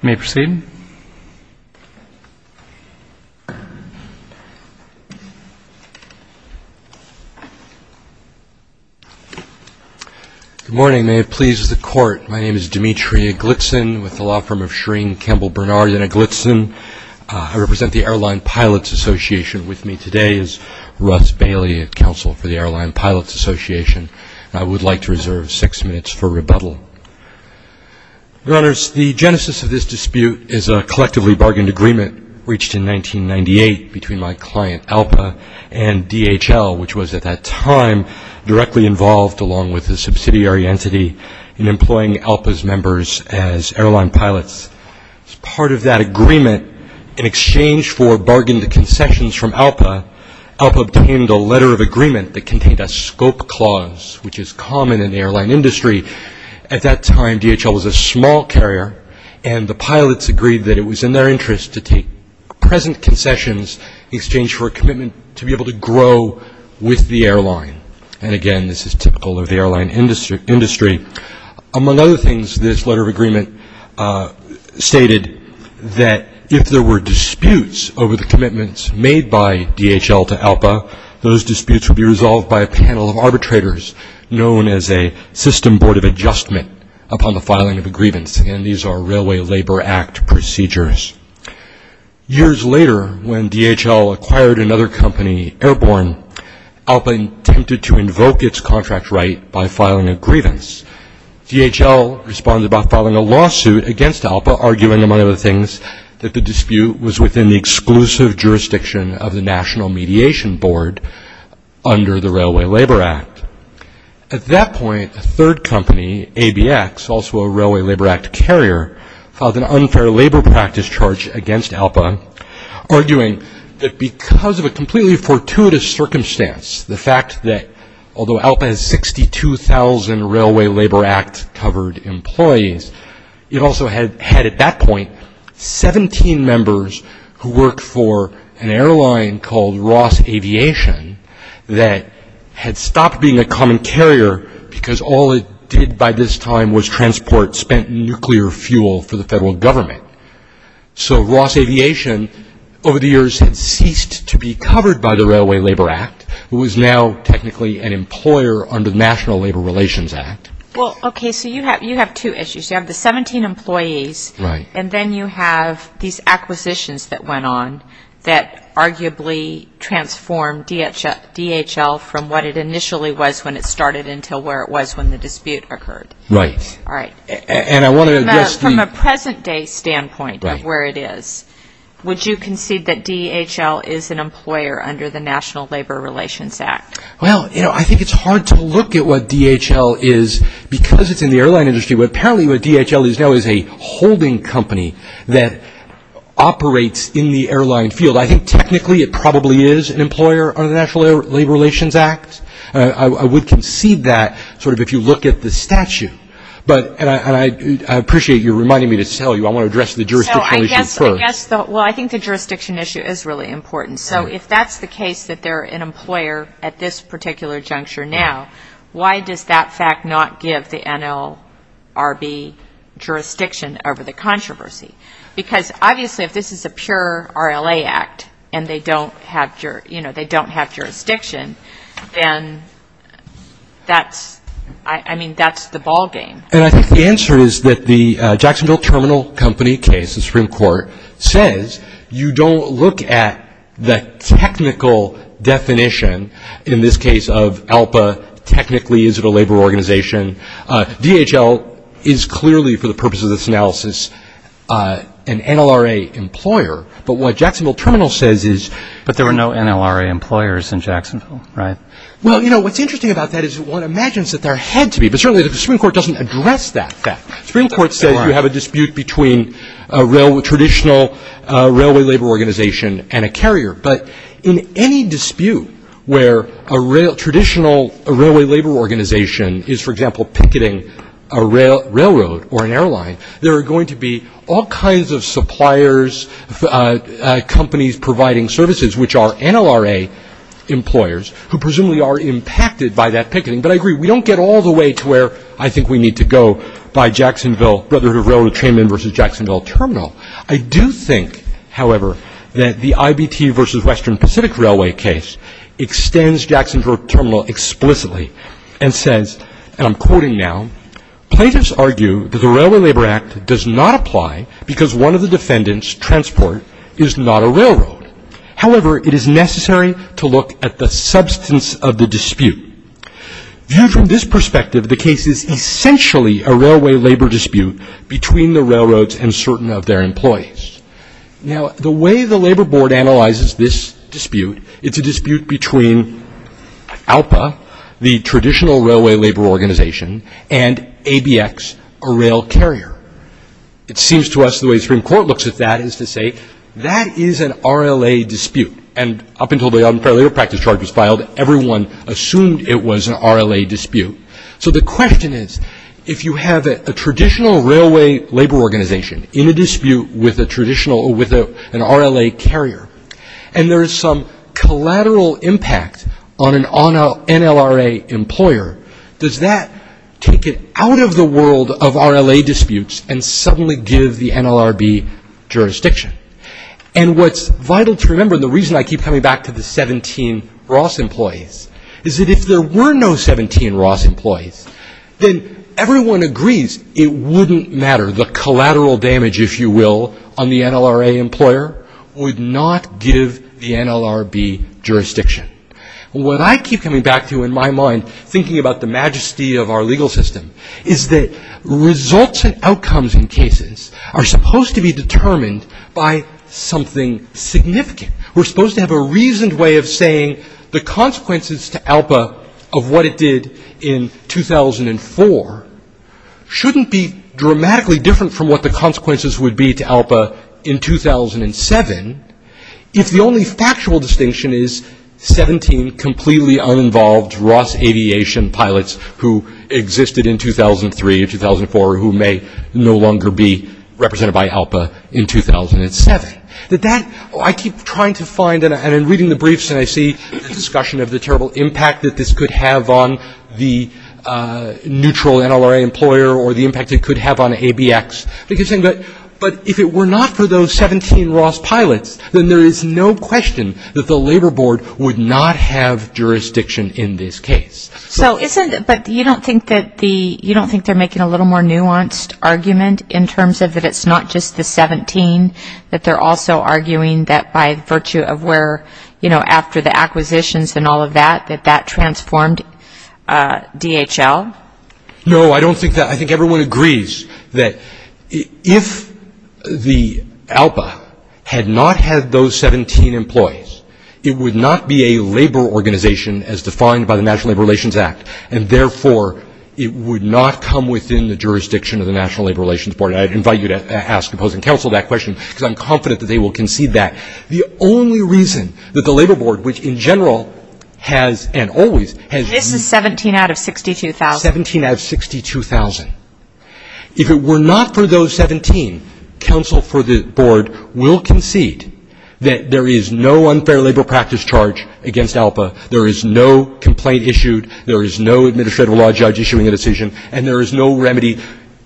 Good morning. May it please the Court, my name is Dimitri Eglitsin, with the law firm of Schering, Campbell, Bernard, and Eglitsin. I represent the Airline Pilots Association with me today is Russ Bailey, Counsel for the Airline Pilots Association. I would like to reserve six minutes for rebuttal. Your Honors, the genesis of this dispute is a collectively bargained agreement reached in 1998 between my client, ALPA, and DHL, which was at that time directly involved, along with a subsidiary entity, in employing ALPA's members as airline pilots. As part of that agreement, in exchange for bargained concessions from ALPA, ALPA obtained a letter of agreement that contained a scope clause, which is common in the airline industry. At that time, DHL was a small carrier, and the pilots agreed that it was in their interest to take present concessions in exchange for a commitment to be able to grow with the airline. And again, this is typical of the airline industry. Among other things, this letter of agreement stated that if there were disputes over the commitments made by DHL to ALPA, those disputes would be resolved by a panel of arbitrators known as a system board of adjustment upon the filing of a grievance, and these are Railway Labor Act procedures. Years later, when DHL acquired another company, Airborne, ALPA attempted to invoke its contract right by filing a grievance. DHL responded by filing a lawsuit against ALPA, arguing among other things that the dispute was within the exclusive jurisdiction of the National Mediation Board under the Railway Labor Act. At that point, a third company, ABX, also a Railway Labor Act carrier, filed an unfair labor practice charge against ALPA, arguing that because of a completely fortuitous circumstance, the fact that although ALPA has 62,000 Railway Labor Act-covered employees, it also had, at that point, 17 members who worked for an airline called Ross Aviation that had stopped being a common carrier because all it did by this time was transport spent nuclear fuel for the federal government. So Ross Aviation, over the years, had ceased to be covered by the Railway Labor Act, who was now technically an employer under the National Labor Relations Act. Well, okay, so you have two issues. You have the 17 employees, and then you have these acquisitions that went on that arguably transformed DHL from what it initially was when it started until where it was when the dispute occurred. Right. All right. And I want to address the From a present-day standpoint of where it is, would you concede that DHL is an employer under the National Labor Relations Act? Well, you know, I think it's hard to look at what DHL is because it's in the airline industry, but apparently what DHL is now is a holding company that operates in the airline field. I think technically it probably is an employer under the National Labor Relations Act. I would concede that sort of if you look at the statute. And I appreciate you reminding me to tell you I want to address the jurisdiction issue first. So I guess, well, I think the jurisdiction issue is really important. So if that's the case that they're an employer at this particular juncture now, why does that fact not give the NLRB jurisdiction over the controversy? Because obviously if this is a pure RLA Act and they don't have jurisdiction, then that's, I mean, that's the ballgame. And I think the answer is that the Jacksonville Terminal Company case, the Supreme Court, says you don't look at the technical definition, in this case of ALPA, technically is it a labor organization. DHL is clearly, for the purposes of this analysis, an NLRA employer. But what Jacksonville Terminal says is. But there were no NLRA employers in Jacksonville, right? Well, you know, what's interesting about that is one imagines that there had to be. But certainly the Supreme Court doesn't address that fact. The Supreme Court says you have a dispute between a traditional railway labor organization and a carrier. But in any dispute where a traditional railway labor organization is, for example, picketing a railroad or an company's providing services, which are NLRA employers, who presumably are impacted by that picketing. But I agree, we don't get all the way to where I think we need to go by Jacksonville, Brotherhood of Railroad Trainmen versus Jacksonville Terminal. I do think, however, that the IBT versus Western Pacific Railway case extends Jacksonville Terminal explicitly and says, and I'm quoting now, plaintiffs argue that the Railway Labor Act does not apply because one of the defendants, transport, is not a railroad. However, it is necessary to look at the substance of the dispute. Viewed from this perspective, the case is essentially a railway labor dispute between the railroads and certain of their employees. Now, the way the Labor Board analyzes this dispute, it's a dispute between ALPA, the it seems to us the way the Supreme Court looks at that is to say, that is an RLA dispute. And up until the unfair labor practice charge was filed, everyone assumed it was an RLA dispute. So the question is, if you have a traditional railway labor organization in a dispute with a traditional, with an RLA carrier, and there is some collateral impact on an NLRA employer, does that take it out of the world of RLA disputes and suddenly give the NLRB jurisdiction? And what's vital to remember, the reason I keep coming back to the 17 Ross employees, is that if there were no 17 Ross employees, then everyone agrees it wouldn't matter. The collateral damage, if you will, on the NLRA employer would not give the NLRB jurisdiction. What I keep coming back to in my mind, thinking about the majesty of our legal system, is that results and outcomes in cases are supposed to be determined by something significant. We're supposed to have a reasoned way of saying the consequences to ALPA of what it did in 2004 shouldn't be dramatically different from what the consequences would be to ALPA in 2004. And if the only factual distinction is 17 completely uninvolved Ross aviation pilots who existed in 2003 or 2004, who may no longer be represented by ALPA in 2007, that that, I keep trying to find, and I'm reading the briefs and I see the discussion of the terrible impact that this could have on the neutral NLRA employer, or the impact it could have on ABX. But if it were not for those 17 Ross pilots, then there is no way no question that the labor board would not have jurisdiction in this case. So isn't it, but you don't think that the, you don't think they're making a little more nuanced argument in terms of that it's not just the 17, that they're also arguing that by virtue of where, you know, after the acquisitions and all of that, that that transformed DHL? No, I don't think that, I think everyone agrees that if the ALPA had not had those 17 Ross employees, it would not be a labor organization as defined by the National Labor Relations Act. And therefore, it would not come within the jurisdiction of the National Labor Relations Board. I invite you to ask opposing counsel that question, because I'm confident that they will concede that. The only reason that the labor board, which in general has and always has, this is 17 out of 62,000, 17 out of 62,000. If it were not for those 17, counsel for the board will concede that there is no unfair labor practice charge against ALPA, there is no complaint issued, there is no administrative law judge issuing a decision, and there is no remedy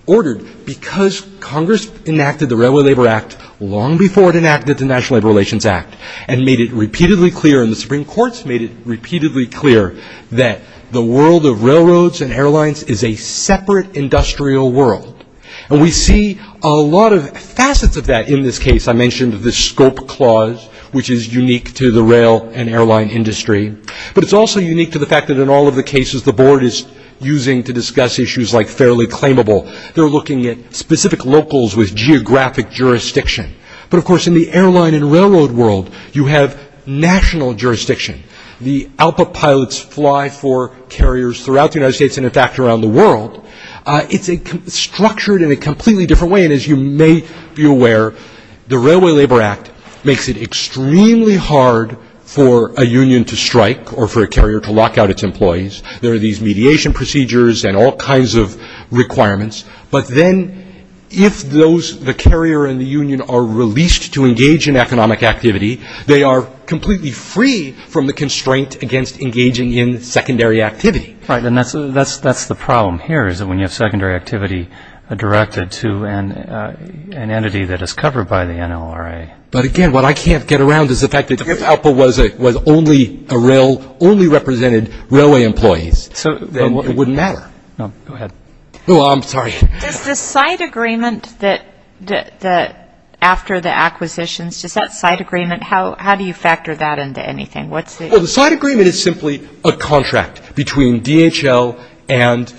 ordered, because Congress enacted the Railway Labor Act long before it enacted the National Labor Relations Act, and made it repeatedly clear, and the Supreme Courts made it repeatedly clear, that the world of railroads and airlines is a separate industrial world. And we see a lot of facets of that in this case. I mentioned the scope clause, which is unique to the rail and airline industry, but it's also unique to the fact that in all of the cases the board is using to discuss issues like fairly claimable, they're looking at specific locals with geographic jurisdiction. But of course in the airline and railroad world, you have national jurisdiction. The ALPA pilots fly for carriers throughout the United States and in fact around the world. It's structured in a completely different way, and as you may be aware, the Railway Labor Act makes it extremely hard for a union to strike, or for a carrier to lock out its employees. There are these mediation procedures and all kinds of requirements, but then if the carrier and the union are released to engage in economic activity, they are completely free from the constraint against engaging in secondary activity. Right, and that's the problem here, is that when you have secondary activity directed to an entity that is covered by the NLRA. But again, what I can't get around is the fact that if ALPA was only a rail, only represented railway employees, then it wouldn't matter. Go ahead. Oh, I'm sorry. Does the site agreement that, after the acquisitions, does that site agreement, how do you factor that into anything? Well, the site agreement is simply a contract between DHL and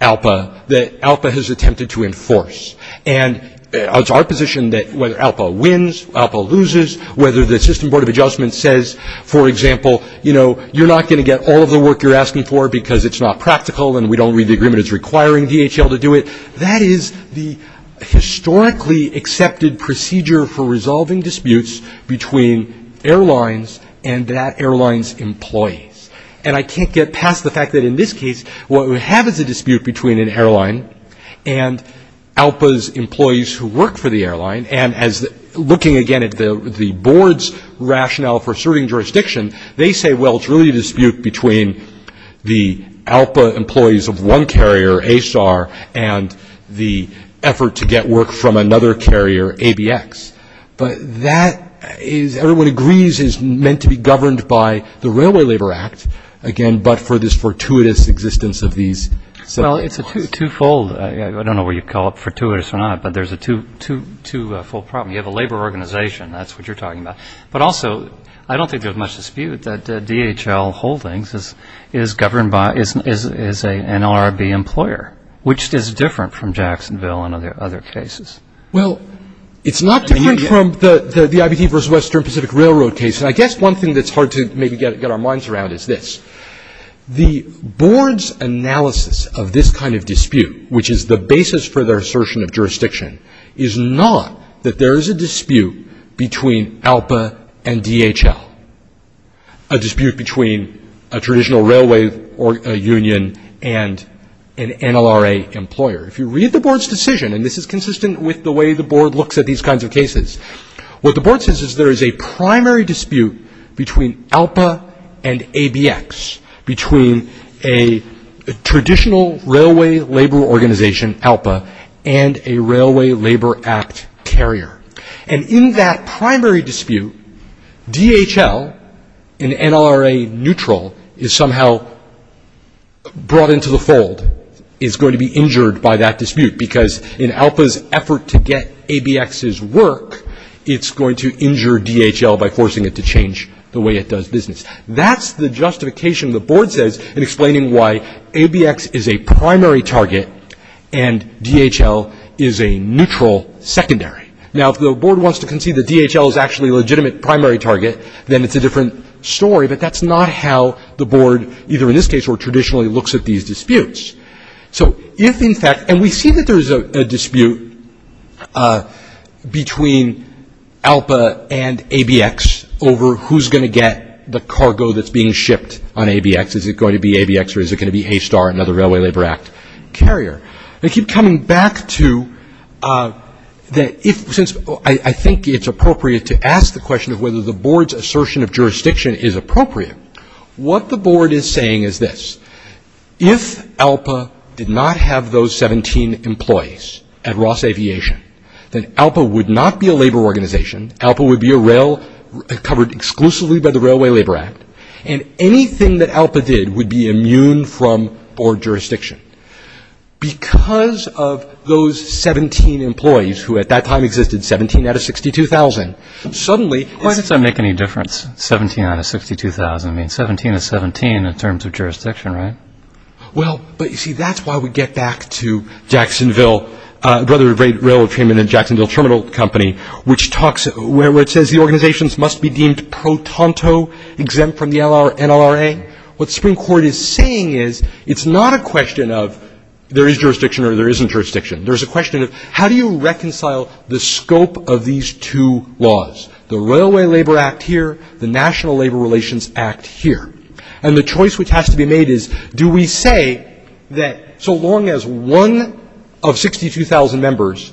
ALPA that ALPA has attempted to enforce. And it's our position that whether ALPA wins, ALPA loses, whether the system board of adjustment says, for example, you know, you're not going to get all of the work you're asking for because it's not practical and we don't read the agreement as requiring DHL to do it, that is the historically accepted procedure for resolving disputes between airlines and that airline's employees. And I can't get past the fact that in this case, what we have is a dispute between an airline and ALPA's employees who work for the airline, and as looking again at the board's rationale for serving jurisdiction, they say, well, it's really a dispute between the ALPA employees of one carrier, ASAR, and the effort to get work from another carrier, ABX. But that is, everyone agrees, is meant to be governed by the Railway Labor Act, again, but for this fortuitous existence of these separate laws. Well, it's a twofold, I don't know whether you'd call it fortuitous or not, but there's a twofold problem. You have a labor organization, that's what you're talking about. But also, I don't think there's much dispute that DHL Holdings is governed by, is an LRB employer, which is different from Jacksonville and other cases. Well, it's not different from the IBT versus Western Pacific Railroad case, and I guess one thing that's hard to maybe get our minds around is this. The board's analysis of this kind of dispute, which is the basis for their assertion of jurisdiction, is not that there is a dispute between ALPA and DHL, a dispute between a traditional railway union and an LRB, with the way the board looks at these kinds of cases. What the board says is there is a primary dispute between ALPA and ABX, between a traditional railway labor organization, ALPA, and a Railway Labor Act carrier. And in that primary dispute, DHL, in NLRA neutral, is somehow brought into the fold, is going to be injured by that dispute, because in order to get ABX's work, it's going to injure DHL by forcing it to change the way it does business. That's the justification the board says in explaining why ABX is a primary target and DHL is a neutral secondary. Now, if the board wants to concede that DHL is actually a legitimate primary target, then it's a different story, but that's not how the board, either in this case or traditionally, looks at these disputes. So if, in fact, and we see that there's a dispute between ALPA and ABX over who's going to get the cargo that's being shipped on ABX, is it going to be ABX or is it going to be ASTAR, another Railway Labor Act carrier? I keep coming back to that if, since I think it's appropriate to ask the question of whether the board's assertion of jurisdiction is appropriate, what the board is saying is this. If ALPA did not have those 17 employees at Ross Aviation, then ALPA would not be a labor organization, ALPA would be a rail covered exclusively by the Railway Labor Act, and anything that ALPA did would be immune from board jurisdiction. Because of those 17 employees, who at that time existed 17 out of 62,000, suddenly... Well, but you see, that's why we get back to Jacksonville, Brotherhood of Railroad Treatment and Jacksonville Terminal Company, which talks, where it says the organizations must be deemed pro tanto, exempt from the NLRA. What the Supreme Court is saying is, it's not a question of there is jurisdiction or there isn't jurisdiction, there's a question of how do you reconcile the scope of these two laws, the Railway Labor Act here, the National Labor Relations Act here. And the choice which has to be made is, do we say that so long as one of 62,000 members,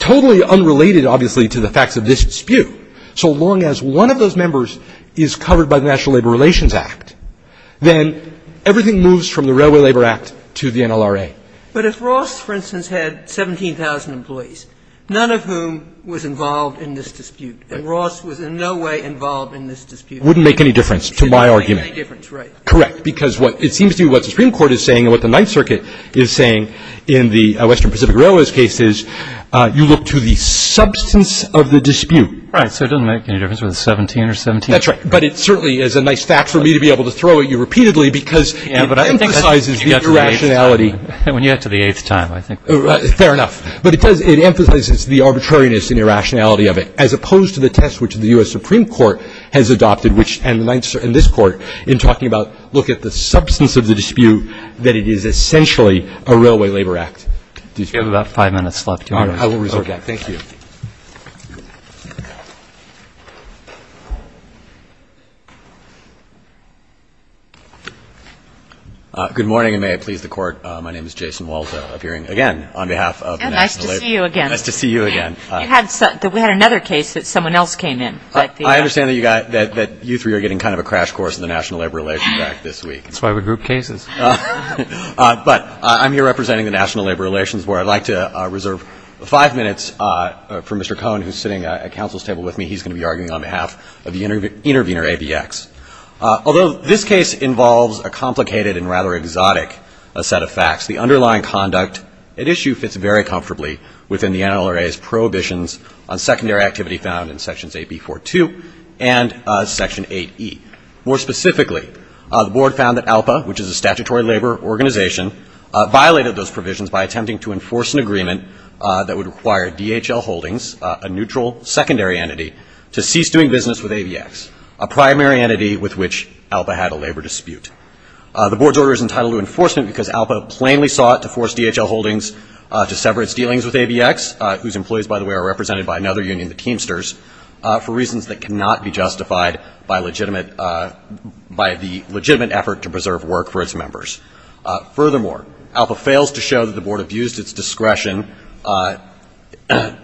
totally unrelated, obviously, to the facts of this dispute, so long as one of those members is covered by the National Labor Relations Act, then everything moves from the Railway Labor Act to the NLRA. But if Ross, for instance, had 17,000 employees, none of whom was involved in this dispute, and Ross was in no way involved in this dispute... It wouldn't make any difference to my argument. It wouldn't make any difference, right. Correct. Because what it seems to me what the Supreme Court is saying and what the Ninth Circuit is saying in the Western Pacific Railway's case is, you look to the substance of the dispute. Right. So it doesn't make any difference whether it's 17 or 17,000. That's right. But it certainly is a nice fact for me to be able to throw at you repeatedly because it emphasizes the irrationality... When you get to the eighth time, I think... Fair enough. But it does, it emphasizes the arbitrariness and irrationality of it, as adopted, which, and the Ninth Circuit, and this Court, in talking about, look at the substance of the dispute, that it is essentially a Railway Labor Act dispute. We have about five minutes left. All right. I will reserve that. Thank you. Good morning, and may it please the Court. My name is Jason Walto, appearing again on behalf of the National Labor... Nice to see you again. Nice to see you again. We had another case that someone else came in. I understand that you three are getting kind of a crash course in the National Labor Relations Act this week. That's why we group cases. But I'm here representing the National Labor Relations, where I'd like to reserve five minutes for Mr. Cohen, who's sitting at counsel's table with me. He's going to be arguing on behalf of the Intervenor ABX. Although this case involves a complicated and rather exotic set of facts, the underlying conduct at issue fits very comfortably within the NLRA's prohibitions on secondary activity found in Sections 8B.4.2 and Section 8E. More specifically, the Board found that ALPA, which is a statutory labor organization, violated those provisions by attempting to enforce an agreement that would require DHL Holdings, a neutral secondary entity, to cease doing business with ABX, a primary entity with which ALPA had a labor dispute. The Board's order is entitled to enforcement because ALPA plainly sought to force DHL Holdings to sever its dealings with ABX, whose employees, by the way, are represented by another union the Teamsters, for reasons that cannot be justified by legitimate, by the legitimate effort to preserve work for its members. Furthermore, ALPA fails to show that the Board abused its discretion,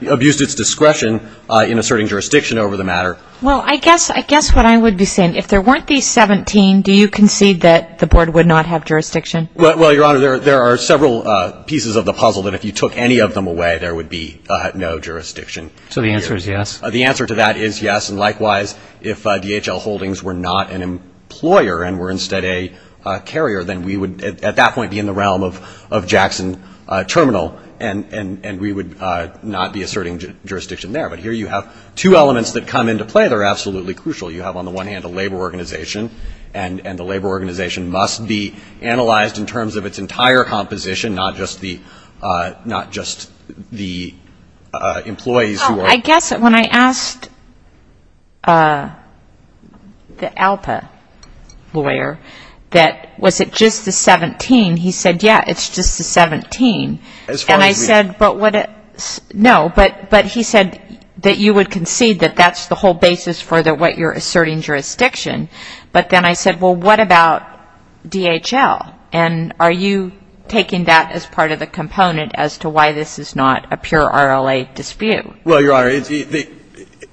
abused its discretion in asserting jurisdiction over the matter. Well, I guess, I guess what I would be saying, if there weren't these 17, do you concede that the Board would not have jurisdiction? Well, Your Honor, there are several pieces of the puzzle that if you took any of them away, there would be no jurisdiction. So the answer is yes? The answer to that is yes, and likewise, if DHL Holdings were not an employer and were instead a carrier, then we would, at that point, be in the realm of Jackson Terminal, and we would not be asserting jurisdiction there. But here you have two elements that come into play that are absolutely crucial. You have, on the one hand, a labor organization, and the labor organization must be analyzed in terms of its entire composition, not just the, not just the employees who are Oh, I guess that when I asked the ALPA lawyer that was it just the 17, he said, yeah, it's just the 17. As far as the And I said, but what, no, but he said that you would concede that that's the whole basis for what you're asserting jurisdiction. But then I said, well, what about DHL? And are you taking that as part of the component as to why this is not a pure RLA dispute? Well, Your Honor,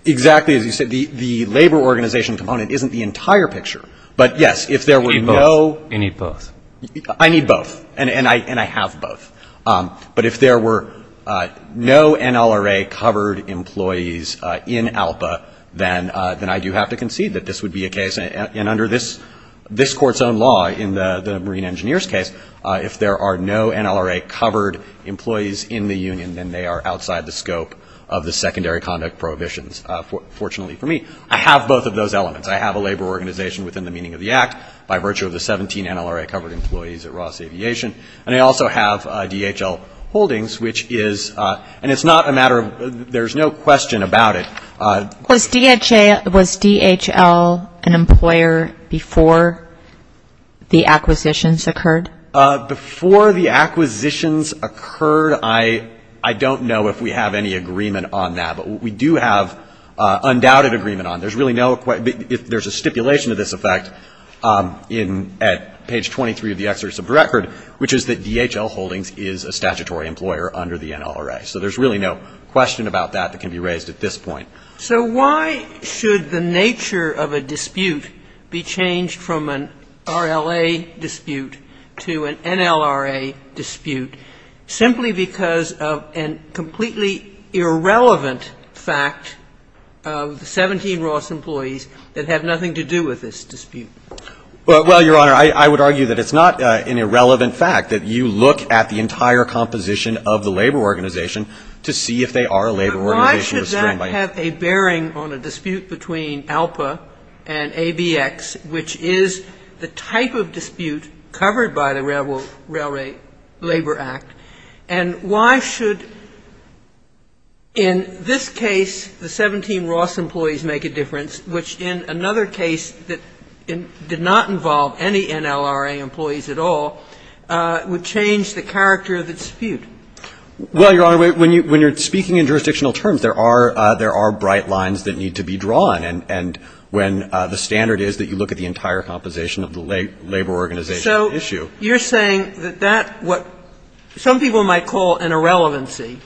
exactly as you said, the labor organization component isn't the entire picture. But yes, if there were no You need both. I need both, and I have both. But if there were no NLRA-covered employees in ALPA, then I do have to concede that this would be a case, and under this Court's own law in the Marine Engineer's case, if there are no NLRA-covered employees in the union, then they are outside the scope of the secondary conduct prohibitions, fortunately for me. I have both of those elements. I have a labor organization within the meaning of the Act by virtue of the 17 NLRA-covered employees at Ross Aviation, and I also have DHL holdings, which is, and it's not a matter of, there's no question about it Was DHL an employer before the acquisitions occurred? Before the acquisitions occurred, I don't know if we have any agreement on that, but we do have undoubted agreement on it. There's really no, if there's a stipulation to this effect at page 23 of the Exodus of the Record, which is that DHL holdings is a statutory employer under the NLRA. So there's really no question about that that can be raised at this point. So why should the nature of a dispute be changed from an RLA dispute to an NLRA dispute simply because of a completely irrelevant fact of the 17 Ross employees that have nothing to do with this dispute? Well, Your Honor, I would argue that it's not an irrelevant fact, that you look at the entire composition of the labor organization to see if they are a labor organization restrained by NLRA. But they have a bearing on a dispute between ALPA and ABX, which is the type of dispute covered by the Railway Labor Act. And why should, in this case, the 17 Ross employees make a difference, which in another case that did not involve any NLRA employees at all, would change the character of the dispute? Well, Your Honor, when you're speaking in jurisdictional terms, there are bright lines that need to be drawn. And when the standard is that you look at the entire composition of the labor organization issue. So you're saying that that what some people might call an irrelevancy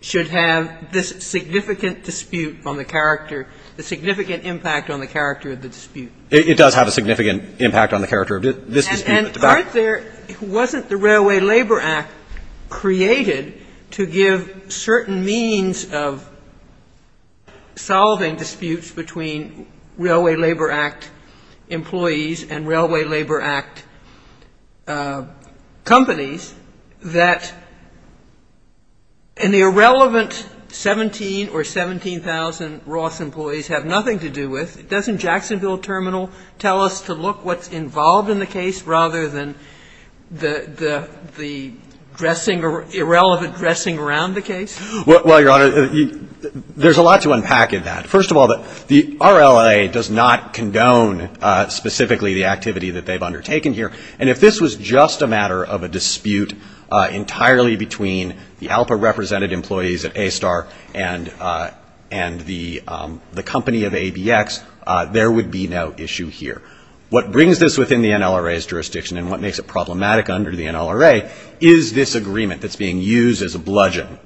should have this significant dispute on the character, the significant impact on the character of the dispute? It does have a significant impact on the character of this dispute. And aren't there – wasn't the Railway Labor Act created to give certain means of solving disputes between Railway Labor Act employees and Railway Labor Act companies that an irrelevant 17 or 17,000 Ross employees have nothing to do with? Doesn't Jacksonville Terminal tell us to look what's involved in the case rather than the dressing – irrelevant dressing around the case? Well, Your Honor, there's a lot to unpack in that. First of all, the RLA does not condone specifically the activity that they've undertaken here. And if this was just a matter of a dispute entirely between the ALPA-represented employees at ASTAR and the company of ABX, there would be no issue here. What brings this within the NLRA's jurisdiction and what makes it problematic under the NLRA is this agreement that's being used as a bludgeon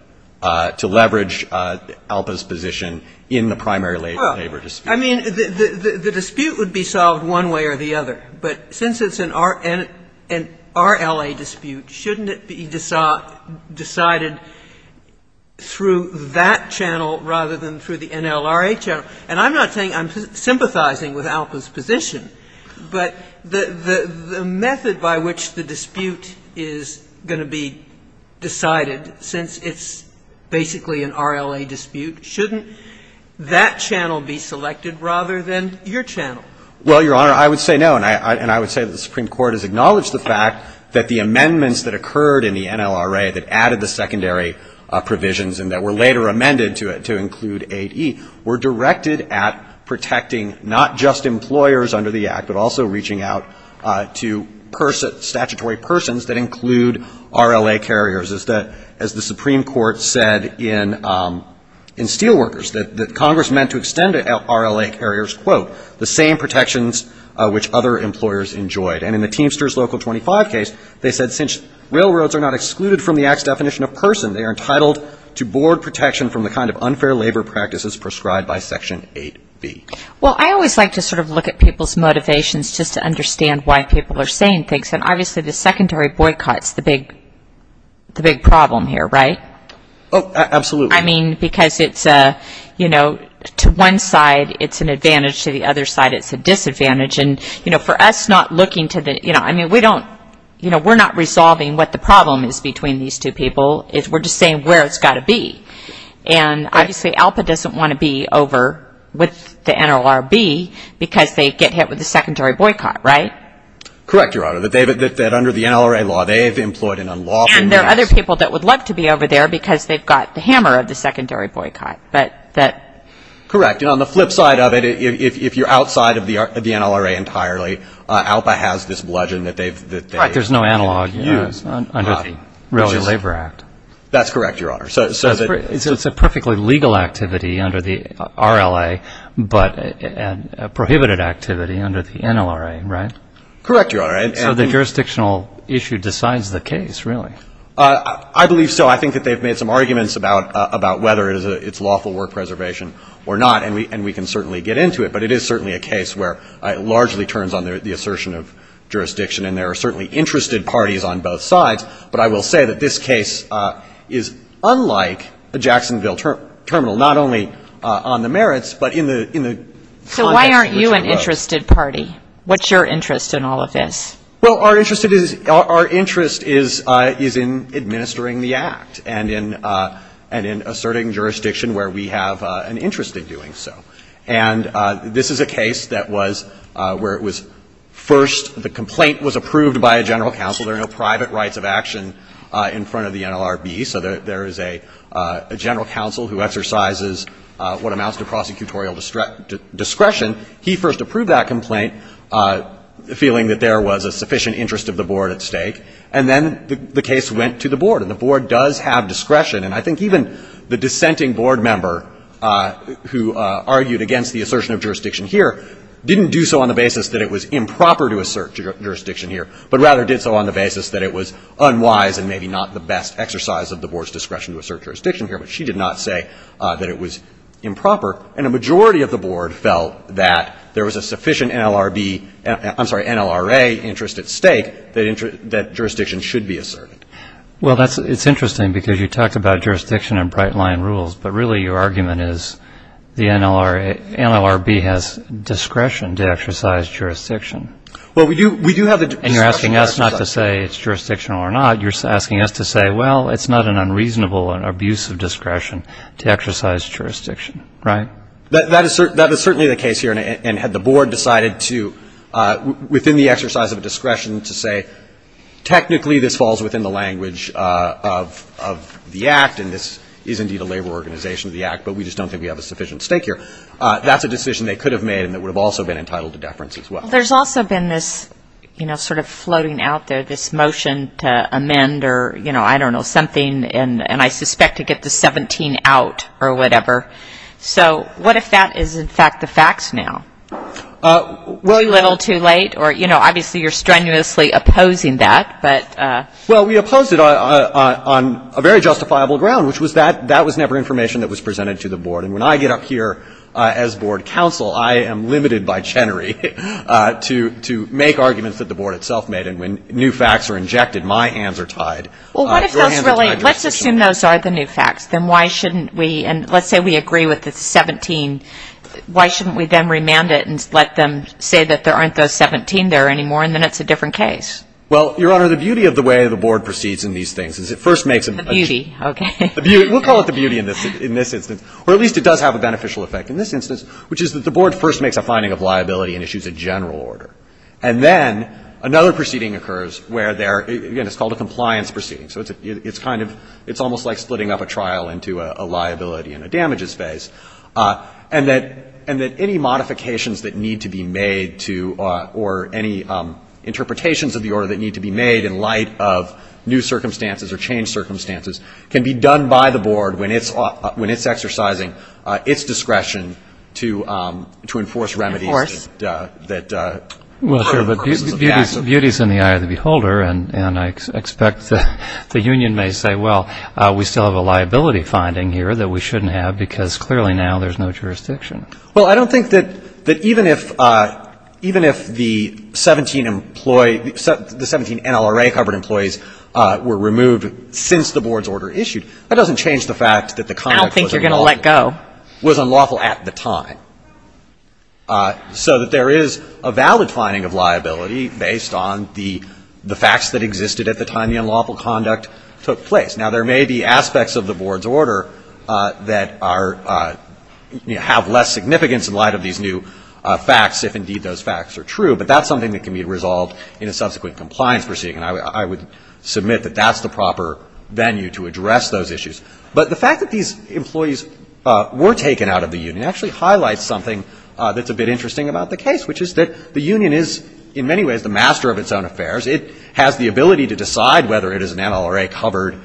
to leverage ALPA's position in the primary labor dispute. I mean, the dispute would be solved one way or the other. But since it's an RLA dispute, shouldn't it be decided through that channel rather than through the NLRA channel? And I'm not saying I'm sympathizing with ALPA's position, but the method by which the dispute is going to be decided, since it's basically an RLA dispute, shouldn't that channel be selected rather than your channel? Well, Your Honor, I would say no. And I would say that the Supreme Court has acknowledged the fact that the amendments that occurred in the NLRA that added the secondary provisions and that were later amended to include 8E were directed at protecting not just employers under the Act, but also reaching out to statutory persons that include RLA carriers, as the Supreme Court said in Steelworkers that Congress meant to extend RLA carriers, quote, the same protections which other employers enjoyed. And in the Teamsters Local 25 case, they said, since railroads are not excluded from the Act's definition of person, they are entitled to board protection from the kind of unfair labor practices prescribed by Section 8B. Well, I always like to sort of look at people's motivations just to understand why people are saying things. And obviously, the secondary boycott's the big problem here, right? Oh, absolutely. I mean, because it's, you know, to one side, it's an advantage. To the other side, it's a disadvantage. And, you know, for us not looking to the, you know, I mean, we don't, you know, we're not resolving what the problem is between these two people. We're just saying where it's got to be. And obviously, ALPA doesn't want to be over with the NLRB because they get hit with a secondary boycott, right? Correct, Your Honor, that under the NLRA law, they've employed an unlawful means. And there are other people that would love to be over there because they've got the hammer of the secondary boycott. But that... Correct. And on the flip side of it, if you're outside of the NLRA entirely, ALPA has this bludgeon that they've... Right, there's no analog under the Railroad Labor Act. That's correct, Your Honor. So it's a perfectly legal activity under the RLA, but a prohibited activity under the NLRA, right? Correct, Your Honor. So the jurisdictional issue decides the case, really? I believe so. I think that they've made some arguments about whether it's lawful work preservation or not. And we can certainly get into it. But it is certainly a case where it largely turns on the assertion of jurisdiction. And there are certainly interested parties on both sides. But I will say that this case is unlike a Jacksonville terminal, not only on the merits, but in the context which it arose. So why aren't you an interested party? What's your interest in all of this? Well, our interest is in administering the act and in asserting jurisdiction where we have an interest in doing so. And this is a case that was where it was first the complaint was approved by a general counsel. There are no private rights of action in front of the NLRB. So there is a general counsel who exercises what amounts to prosecutorial discretion. He first approved that complaint, feeling that there was a sufficient interest of the board at stake. And then the case went to the board. And the board does have discretion. And I think even the dissenting board member who argued against the assertion of jurisdiction here didn't do so on the basis that it was improper to assert jurisdiction here, but rather did so on the basis that it was unwise and maybe not the best exercise of the board's discretion to assert jurisdiction here. But she did not say that it was improper. And a majority of the board felt that there was a sufficient NLRB, I'm sorry, NLRA interest at stake that jurisdiction should be asserted. Well, it's interesting because you talked about jurisdiction and bright line rules. But really, your argument is the NLRB has discretion to exercise jurisdiction. Well, we do have the discretion. And you're asking us not to say it's jurisdictional or not. You're asking us to say, well, it's not an unreasonable and abusive discretion to exercise jurisdiction, right? That is certainly the case here. And had the board decided to, within the exercise of discretion, to say, technically this falls within the language of the Act, and this is indeed a labor organization of the Act, but we just don't think we have a sufficient stake here, that's a decision they could have made and that would have also been entitled to deference as well. Well, there's also been this, you know, sort of floating out there, this motion to amend or, you know, I don't know, something, and I suspect to get the 17 out or whatever. So what if that is, in fact, the facts now? Were we a little too late? Or, you know, obviously you're strenuously opposing that, but. Well, we opposed it on a very justifiable ground, which was that that was never information that was presented to the board. And when I get up here as board counsel, I am limited by Chenery to make arguments that the board itself made. And when new facts are injected, my hands are tied. Well, what if those really, let's assume those are the new facts, then why shouldn't we, and let's say we agree with the 17, why shouldn't we then remand it and let them say that there aren't those 17 there anymore and then it's a different case? Well, Your Honor, the beauty of the way the board proceeds in these things is it first makes a. Beauty, okay. We'll call it the beauty in this instance, or at least it does have a beneficial effect in this instance, which is that the board first makes a finding of liability and issues a general order. And then another proceeding occurs where there, again, it's called a compliance proceeding. So it's kind of, it's almost like splitting up a trial into a liability and a damages phase. And that any modifications that need to be made to, or any interpretations of the order that need to be made in light of new circumstances or changed circumstances can be done by the board when it's exercising its discretion to enforce remedies. Of course. And that. Well, sure, but beauty is in the eye of the beholder. And I expect the union may say, well, we still have a liability finding here that we shouldn't have because clearly now there's no jurisdiction. Well, I don't think that even if the 17 NLRA-covered employees were removed since the board's order issued, that doesn't change the fact that the conduct was unlawful at the time. So that there is a valid finding of liability based on the facts that existed at the time the unlawful conduct took place. Now, there may be aspects of the board's order that are, you know, have less significance in light of these new facts, if indeed those facts are true, but that's something that can be resolved in a subsequent compliance proceeding. And I would submit that that's the proper venue to address those issues. But the fact that these employees were taken out of the union actually highlights something that's a bit interesting about the case, which is that the union is in many ways the master of its own affairs. It has the ability to decide whether it is an NLRA-covered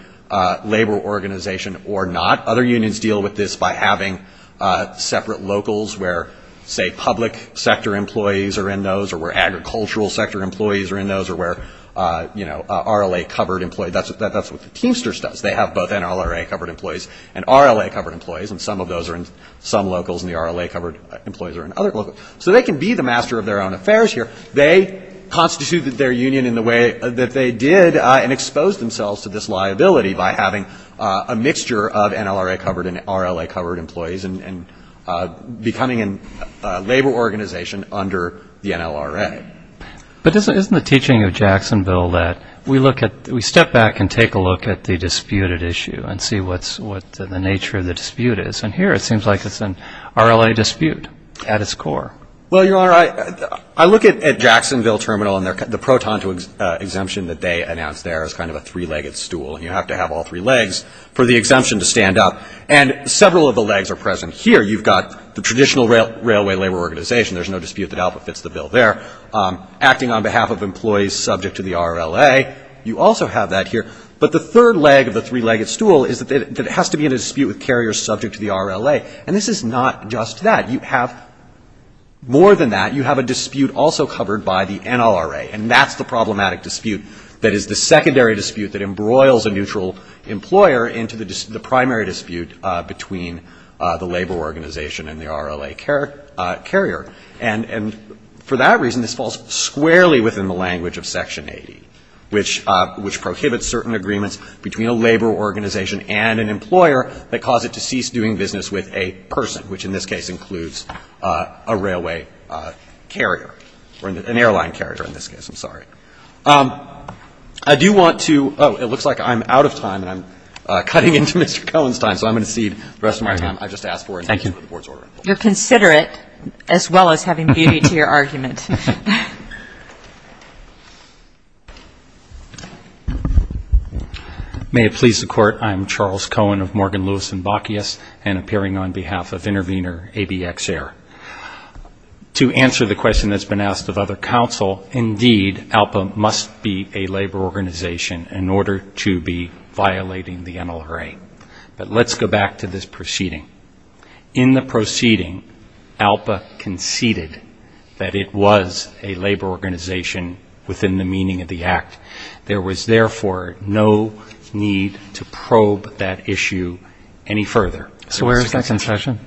labor organization or not. Other unions deal with this by having separate locals where, say, public sector employees are in those or where agricultural sector employees are in those or where, you know, RLA-covered employees. That's what the Teamsters does. They have both NLRA-covered employees and RLA-covered employees, and some of those are in some locals and the RLA-covered employees are in other locals. So they can be the master of their own affairs here. They constituted their union in the way that they did and exposed themselves to this liability by having a mixture of NLRA-covered and RLA-covered employees and becoming a labor organization under the NLRA. But isn't the teaching of Jacksonville that we look at, we step back and take a look at the disputed issue and see what's the nature of the dispute is? And here it seems like it's an RLA dispute at its core. Well, Your Honor, I look at Jacksonville Terminal and the proton to exemption that they announced there is kind of a three-legged stool, and you have to have all three legs for the exemption to stand up. And several of the legs are present here. You've got the traditional railway labor organization. There's no dispute that ALPA fits the bill there. Acting on behalf of employees subject to the RLA, you also have that here. But the third leg of the three-legged stool is that it has to be in a dispute with carriers subject to the RLA, and this is not just that. You have more than that. You have a dispute also covered by the NLRA, and that's the problematic dispute that is the secondary dispute that embroils a neutral employer into the primary dispute between the labor organization and the RLA carrier. And for that reason, this falls squarely within the language of Section 80, which prohibits certain agreements between a labor organization and an employer that cause it to cease doing business with a person, which in this case includes a railway carrier or an airline carrier in this case. I'm sorry. I do want to oh, it looks like I'm out of time, and I'm cutting into Mr. Cohen's time, so I'm going to cede the rest of my time. I just asked for it. Thank you. The Board's order. You're considerate as well as having beauty to your argument. May it please the Court. I'm Charles Cohen of Morgan, Lewis & Bockius, and appearing on behalf of intervener ABX Air. To answer the question that's been asked of other counsel, indeed ALPA must be a labor organization in order to be violating the NLRA. But let's go back to this proceeding. In the proceeding, ALPA conceded that it was a labor organization within the meaning of the act. There was therefore no need to probe that issue any further. So where is that concession?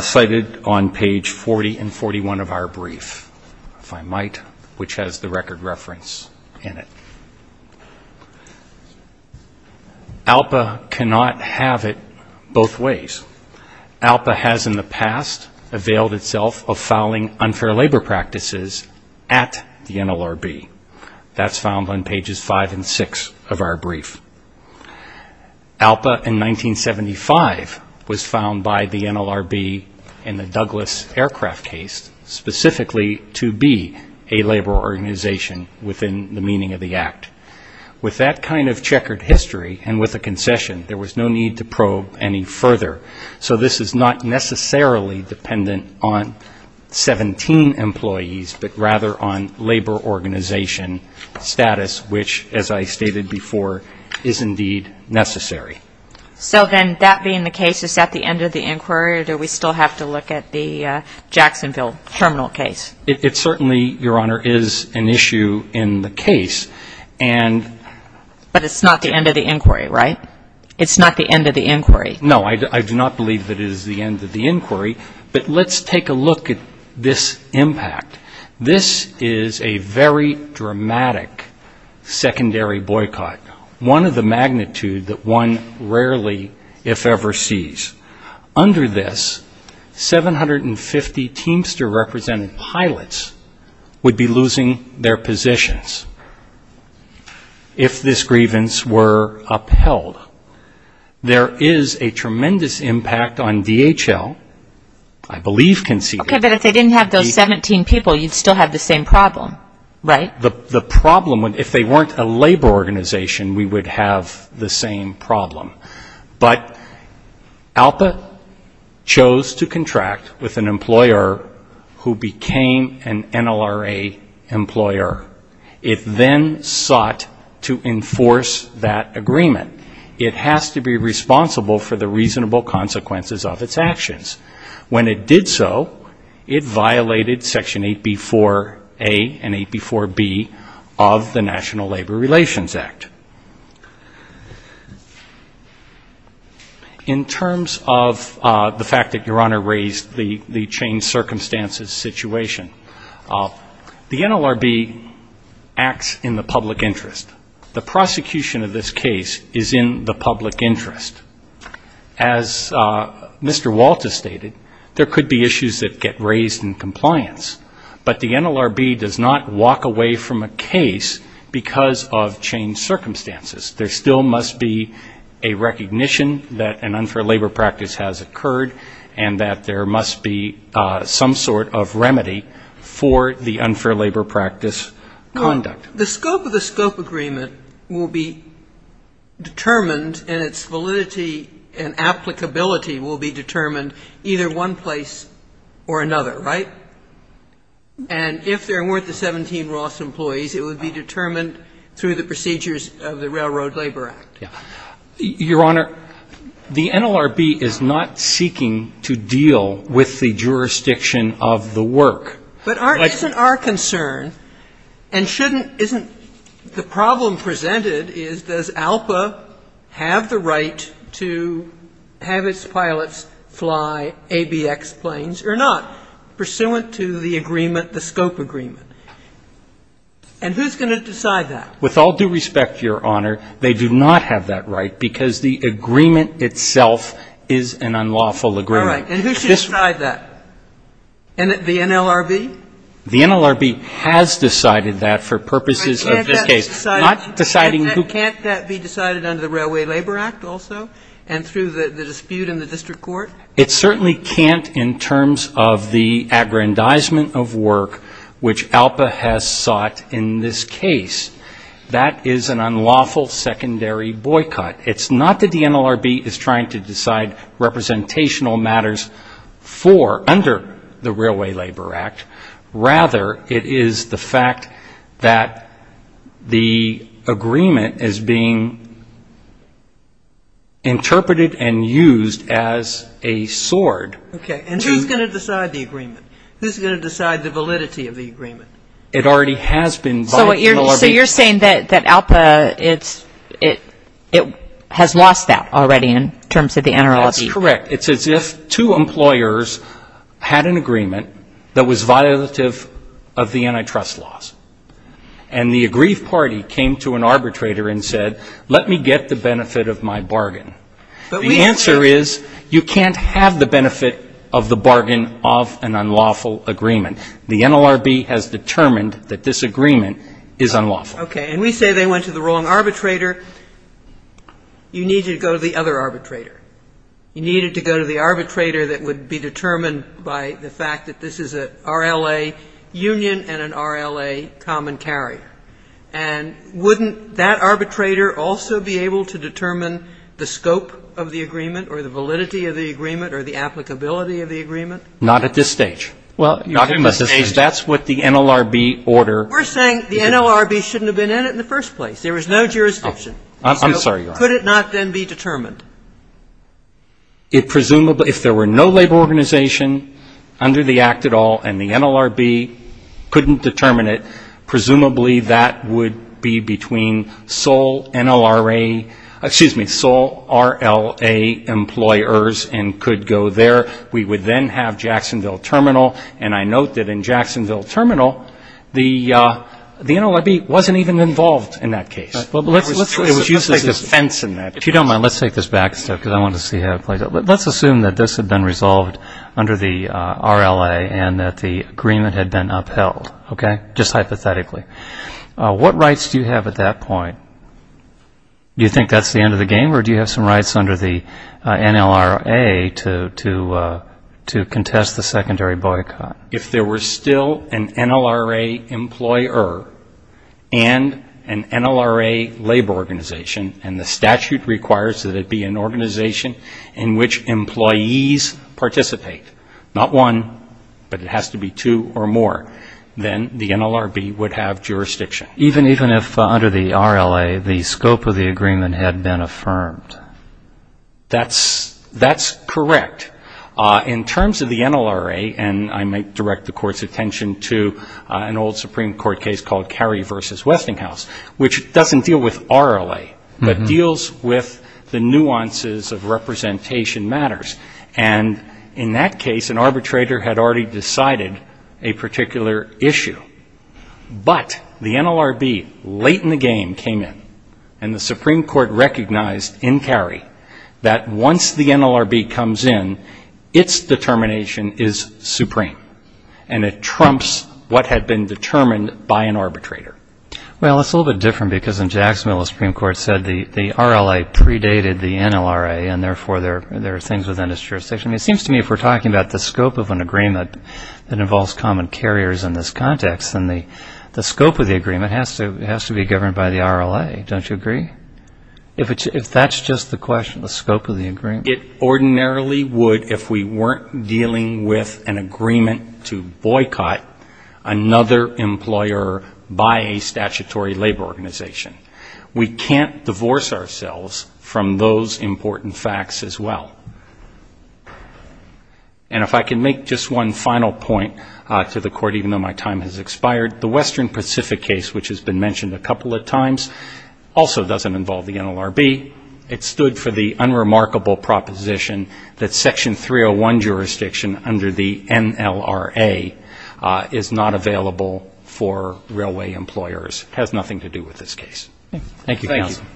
Cited on page 40 and 41 of our brief, if I might, which has the record reference in it. ALPA cannot have it both ways. ALPA has in the past availed itself of fouling unfair labor practices at the NLRB. That's found on pages 5 and 6 of our brief. ALPA in 1975 was found by the NLRB in the Douglas Aircraft case specifically to be a labor organization within the meaning of the act. With that kind of checkered history and with a concession, there was no need to probe any further. So this is not necessarily dependent on 17 employees, but rather on labor organization status, which as I stated before, is indeed necessary. So then that being the case, is that the end of the inquiry or do we still have to look at the Jacksonville terminal case? It certainly, Your Honor, is an issue in the case. And But it's not the end of the inquiry, right? It's not the end of the inquiry. No, I do not believe that it is the end of the inquiry, but let's take a look at this impact. This is a very dramatic secondary boycott, one of the magnitude that one rarely, if ever, sees. Under this, 750 Teamster-represented pilots would be losing their positions if this grievance were upheld. There is a tremendous impact on DHL, I believe conceded. Okay, but if they didn't have those 17 people, you'd still have the same problem, right? The problem, if they weren't a labor organization, we would have the same problem. But ALPA chose to contract with an employer who became an NLRA employer. It then sought to enforce that agreement. It has to be responsible for the reasonable consequences of its actions. When it did so, it violated Section 8B4A and 8B4B of the National Labor Relations Act. In terms of the fact that Your Honor raised the change circumstances situation, the NLRB acts in the public interest. The prosecution of this case is in the public interest. As Mr. Walters stated, there could be issues that get raised in compliance, but the NLRB does not walk away from a case because of change circumstances. There still must be a recognition that an unfair labor practice has occurred and that there must be some sort of remedy for the unfair labor practice conduct. The scope of the scope agreement will be determined and its validity and applicability will be determined either one place or another, right? And if there weren't the 17 Ross employees, it would be determined through the procedures of the Railroad Labor Act. Your Honor, the NLRB is not seeking to deal with the jurisdiction of the work. But isn't our concern and shouldn't, isn't the problem presented is, does ALPA have the right to have its pilots fly ABX planes or not, pursuant to the agreement, the scope agreement? And who's going to decide that? With all due respect, Your Honor, they do not have that right because the agreement itself is an unlawful agreement. All right, and who should decide that? The NLRB? The NLRB has decided that for purposes of this case. Can't that be decided under the Railway Labor Act also and through the dispute in the district court? It certainly can't in terms of the aggrandizement of work which ALPA has sought in this case. That is an unlawful secondary boycott. It's not that the NLRB is trying to decide representational matters for, under the Railway Labor Act. Rather, it is the fact that the agreement is being interpreted and used as a sword. Okay, and who's going to decide the agreement? Who's going to decide the validity of the agreement? It already has been. So you're saying that ALPA, it has lost that already in terms of the NLRB? That's correct. It's as if two employers had an agreement that was violative of the antitrust laws. And the aggrieved party came to an arbitrator and said, let me get the benefit of my bargain. The answer is you can't have the benefit of the bargain of an unlawful agreement. The NLRB has determined that this agreement is unlawful. Okay, and we say they went to the wrong arbitrator. You needed to go to the other arbitrator. You needed to go to the arbitrator that would be determined by the fact that this is a RLA union and an RLA common carrier. And wouldn't that arbitrator also be able to determine the scope of the agreement or the validity of the agreement or the applicability of the agreement? Not at this stage. Well, not at this stage. That's what the NLRB order. We're saying the NLRB shouldn't have been in it in the first place. There was no jurisdiction. I'm sorry, Your Honor. Could it not then be determined? It presumably, if there were no labor organization under the act at all and the NLRB couldn't determine it, presumably that would be between sole NLRA, excuse me, sole RLA employers and could go there. We would then have Jacksonville Terminal. And I note that in Jacksonville Terminal, the NLRB wasn't even involved in that case. It was used as a fence in that case. If you don't mind, let's take this back a step because I want to see how it plays out. Let's assume that this had been resolved under the RLA and that the agreement had been upheld. Okay? Just hypothetically. What rights do you have at that point? You think that's the end of the game or do you have some rights under the NLRA to contest the secondary boycott? If there were still an NLRA employer and an NLRA labor organization and the statute requires that it be an organization in which employees participate, not one, but it has to be two or more, then the NLRB would have jurisdiction. Even if under the RLA, the scope of the agreement had been affirmed? That's correct. In terms of the NLRA, and I might direct the Court's attention to an old Supreme Court case called Carey v. Westinghouse, which doesn't deal with RLA, but deals with the nuances of representation matters. And in that case, an arbitrator had already decided a particular issue. But the NLRB, late in the game, came in and the Supreme Court recognized in Carey that once the NLRB comes in, its determination is supreme. And it trumps what had been determined by an arbitrator. Well, it's a little bit different because in Jacksonville, the Supreme Court said the RLA predated the NLRA and therefore there are things within its jurisdiction. It seems to me if we're talking about the scope of an agreement that involves common carriers in this context, then the scope of the agreement has to be governed by the RLA. Don't you agree? If that's just the question, the scope of the agreement? It ordinarily would if we weren't dealing with an agreement to boycott another employer by a statutory labor organization. We can't divorce ourselves from those important facts as well. And if I can make just one final point to the Court, even though my time has expired, the Western Pacific case, which has been mentioned a couple of times, also doesn't involve the NLRB. It stood for the unremarkable proposition that Section 301 jurisdiction under the NLRA is not available for railway employers. Has nothing to do with this case. Thank you, counsel.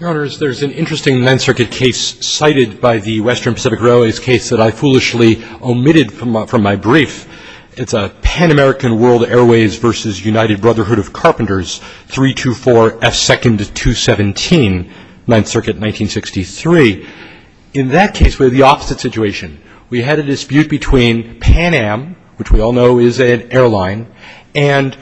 Your Honors, there's an interesting Ninth Circuit case cited by the Western Pacific Railways case that I foolishly omitted from my brief. It's a Pan American World Airways v. United Brotherhood of Carpenters, 324F2217, Ninth Circuit, 1963. In that case, we have the opposite situation. We had a dispute between Pan Am, which we all know is an airline, and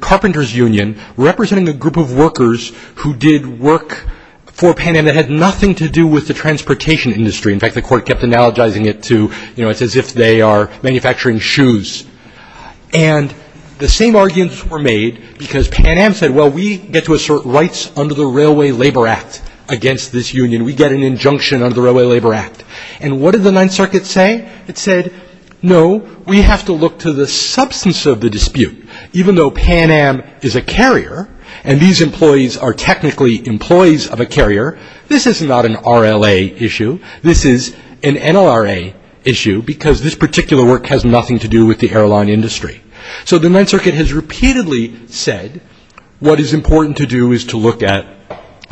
Carpenters Union, representing a group of workers who did work for Pan Am that had nothing to do with the transportation industry. In fact, the Court kept analogizing it to, you know, it's as if they are manufacturing shoes. And the same arguments were made because Pan Am said, well, we get to assert rights under the Railway Labor Act against this union. We get an injunction under the Railway Labor Act. And what did the Ninth Circuit say? It said, no, we have to look to the substance of the dispute. Even though Pan Am is a carrier, and these employees are technically employees of a carrier, this is not an RLA issue. This is an NLRA issue because this particular work has nothing to do with the airline industry. So the Ninth Circuit has repeatedly said, what is important to do is to look at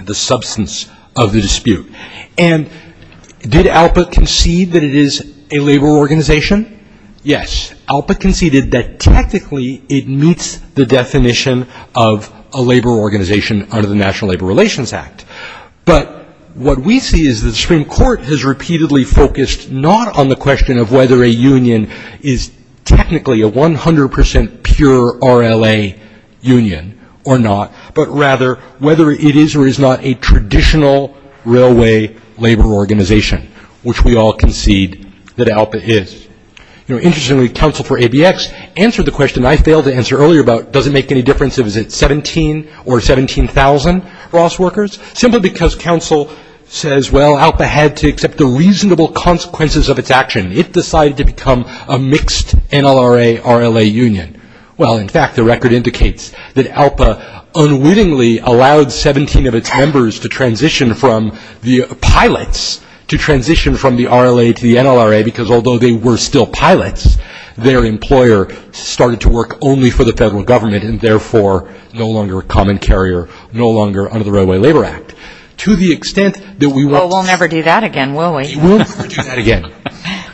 the substance of the dispute. And did ALPA concede that it is a labor organization? Yes. ALPA conceded that technically it meets the definition of a labor organization under the National Labor Relations Act. But what we see is the Supreme Court has repeatedly focused not on the question of whether a union is technically a 100 percent pure RLA union or not, but rather whether it is or is not a traditional railway labor organization, which we all concede that ALPA is. Interestingly, counsel for ABX answered the question I failed to answer earlier about does it make any difference if it's 17 or 17,000 Ross workers, simply because counsel says, well, ALPA had to accept the reasonable consequences of its action. It decided to become a mixed NLRA, RLA union. Well, in fact, the record indicates that ALPA unwittingly allowed 17 of its members to transition from the pilots to transition from the RLA to the NLRA because although they were still pilots, their employer started to work only for the federal government and therefore no longer a common carrier, no longer under the Railway Labor Act. To the extent that we want to... Well, we'll never do that again, will we? We'll never do that again.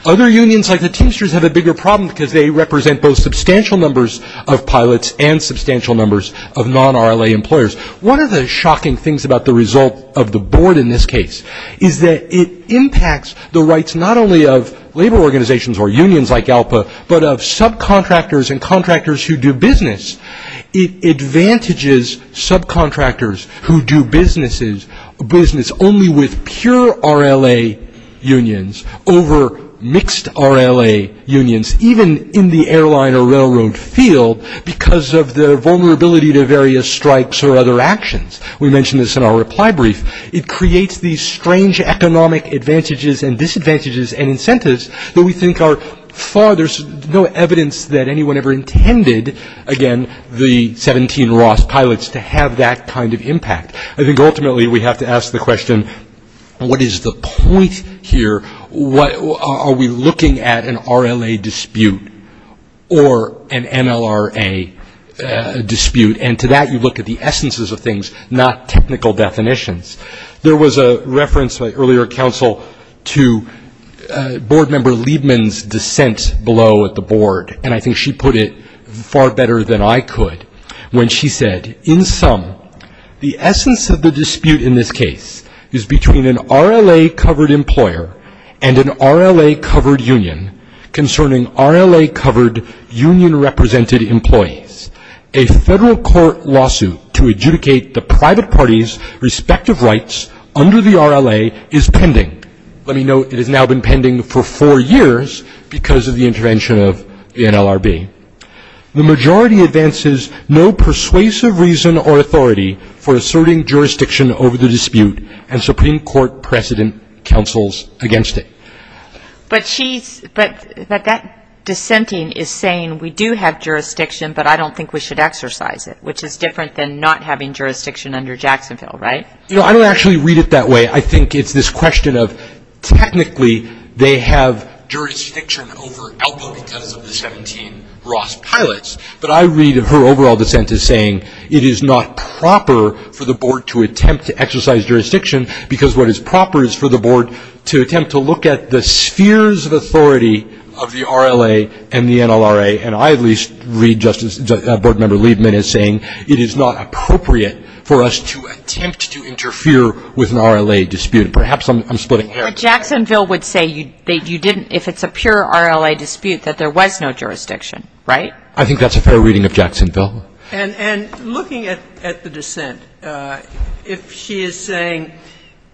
Other unions like the Teamsters have a bigger problem because they represent both substantial numbers of pilots and substantial numbers of non-RLA employers. One of the shocking things about the result of the board in this case is that it impacts the rights not only of labor organizations or unions like ALPA, but of subcontractors and contractors who do business. It advantages subcontractors who do business only with pure RLA unions over mixed RLA unions, even in the airline or railroad field because of their vulnerability to various strikes or other actions. We mentioned this in our reply brief. It creates these strange economic advantages and disadvantages and incentives that we think are far... There's no evidence that anyone ever intended, again, the 17 Ross pilots to have that kind of impact. I think ultimately we have to ask the question, what is the point here? Are we looking at an RLA dispute or an NLRA dispute? And to that you look at the essences of things, not technical definitions. There was a reference by earlier counsel to board member Liebman's dissent below at the board, and I think she put it far better than I could when she said, in sum, the essence of the dispute in this case is between an RLA-covered employer and an RLA-covered union concerning RLA-covered union-represented employees. A federal court lawsuit to adjudicate the private party's respective rights under the RLA is pending. Let me note it has now been pending for four years because of the intervention of the NLRB. The majority advances no persuasive reason or authority for asserting jurisdiction over the dispute, and Supreme Court precedent counsels against it. But that dissenting is saying we do have jurisdiction, but I don't think we should exercise it, which is different than not having jurisdiction under Jacksonville, right? I don't actually read it that way. I think it's this question of technically they have jurisdiction over Alpo because of the 17 Ross pilots, but I read her overall dissent as saying it is not proper for the board to attempt to exercise jurisdiction because what is proper is for the board to attempt to look at the spheres of authority of the RLA and the NLRA, and I at least read board member Liebman as saying it is not appropriate for us to attempt to interfere with an RLA dispute. Perhaps I'm splitting hairs. But Jacksonville would say you didn't if it's a pure RLA dispute that there was no jurisdiction, right? I think that's a fair reading of Jacksonville. And looking at the dissent, if she is saying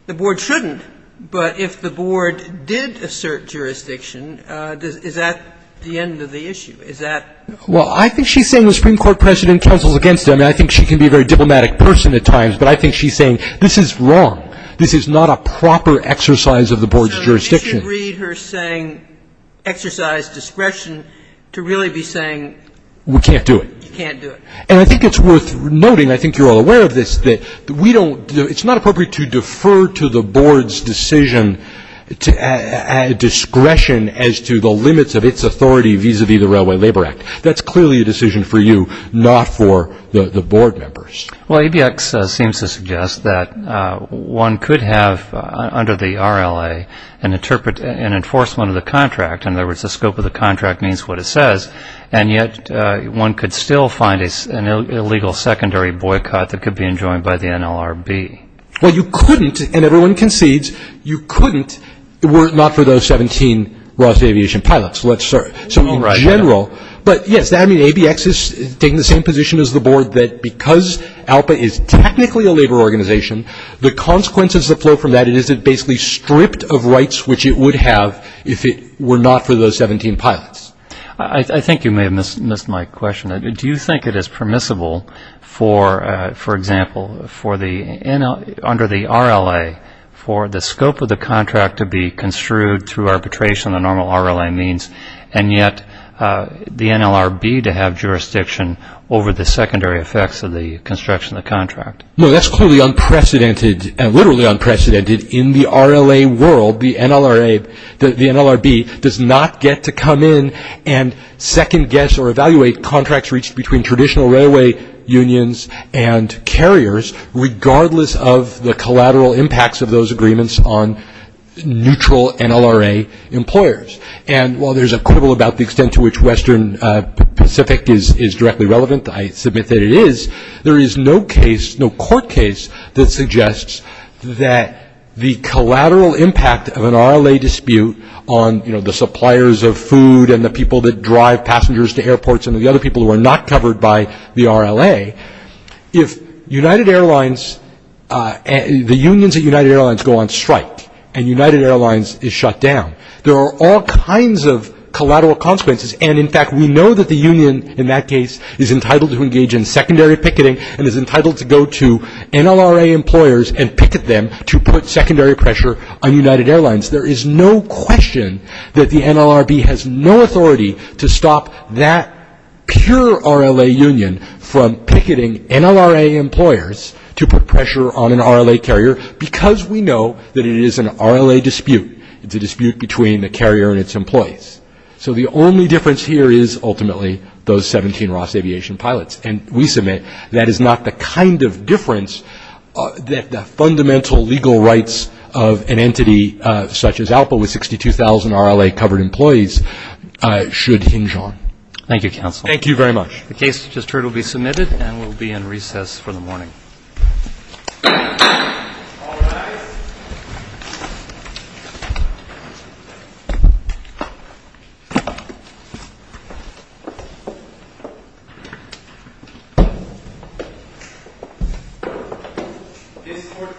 the board shouldn't, but if the board did assert jurisdiction, is that the end of the issue? Is that? Well, I think she's saying the Supreme Court precedent counsels against it. I mean, I think she can be a very diplomatic person at times, but I think she's saying this is wrong. This is not a proper exercise of the board's jurisdiction. So you should read her saying exercise discretion to really be saying you can't do it. You can't do it. And I think it's worth noting, I think you're all aware of this, that we don't, it's not appropriate to defer to the board's decision, discretion as to the limits of its authority vis-à-vis the Railway Labor Act. That's clearly a decision for you, not for the board members. Well, ABX seems to suggest that one could have, under the RLA, an enforcement of the contract. In other words, the scope of the contract means what it says, and yet one could still find an illegal secondary boycott that could be enjoined by the NLRB. Well, you couldn't, and everyone concedes, you couldn't were it not for those 17 Ross Aviation pilots. So in general, but yes, I mean, ABX is taking the same position as the board that because ALPA is technically a labor organization, the consequences that flow from that is it basically stripped of rights which it would have if it were not for those 17 pilots. I think you may have missed my question. Do you think it is permissible for, for example, for the, under the RLA, for the scope of the contract to be construed through arbitration, the normal RLA means, and yet the NLRB to have jurisdiction over the secondary effects of the construction of the contract? No, that's clearly unprecedented and literally unprecedented in the RLA world. The NLRA, the NLRB does not get to come in and second guess or evaluate contracts reached between traditional railway unions and carriers regardless of the collateral impacts of those agreements on neutral NLRA employers. And while there's a quibble about the extent to which Western Pacific is directly relevant, I submit that it is, there is no case, no court case that suggests that the collateral impact of an RLA dispute on, you know, the suppliers of food and the people that drive passengers to airports and the other people who are not covered by the RLA, if United Airlines, the unions at United Airlines go on strike and United Airlines is shut down, there are all kinds of collateral consequences. And in fact, we know that the union in that case is entitled to engage in secondary picketing and is entitled to go to NLRA employers and picket them to put secondary pressure on United Airlines. There is no question that the NLRB has no authority to stop that pure RLA union from picketing NLRA employers to put pressure on an RLA carrier because we know that it is an RLA dispute. It's a dispute between the carrier and its employees. So the only difference here is ultimately those 17 Ross Aviation pilots. And we submit that is not the kind of difference that the fundamental legal rights of an entity such as ALPA with 62,000 RLA-covered employees should hinge on. Thank you, counsel. Thank you very much. The case just heard will be submitted and will be in recess for the morning. All rise. This court for this session stands adjourned.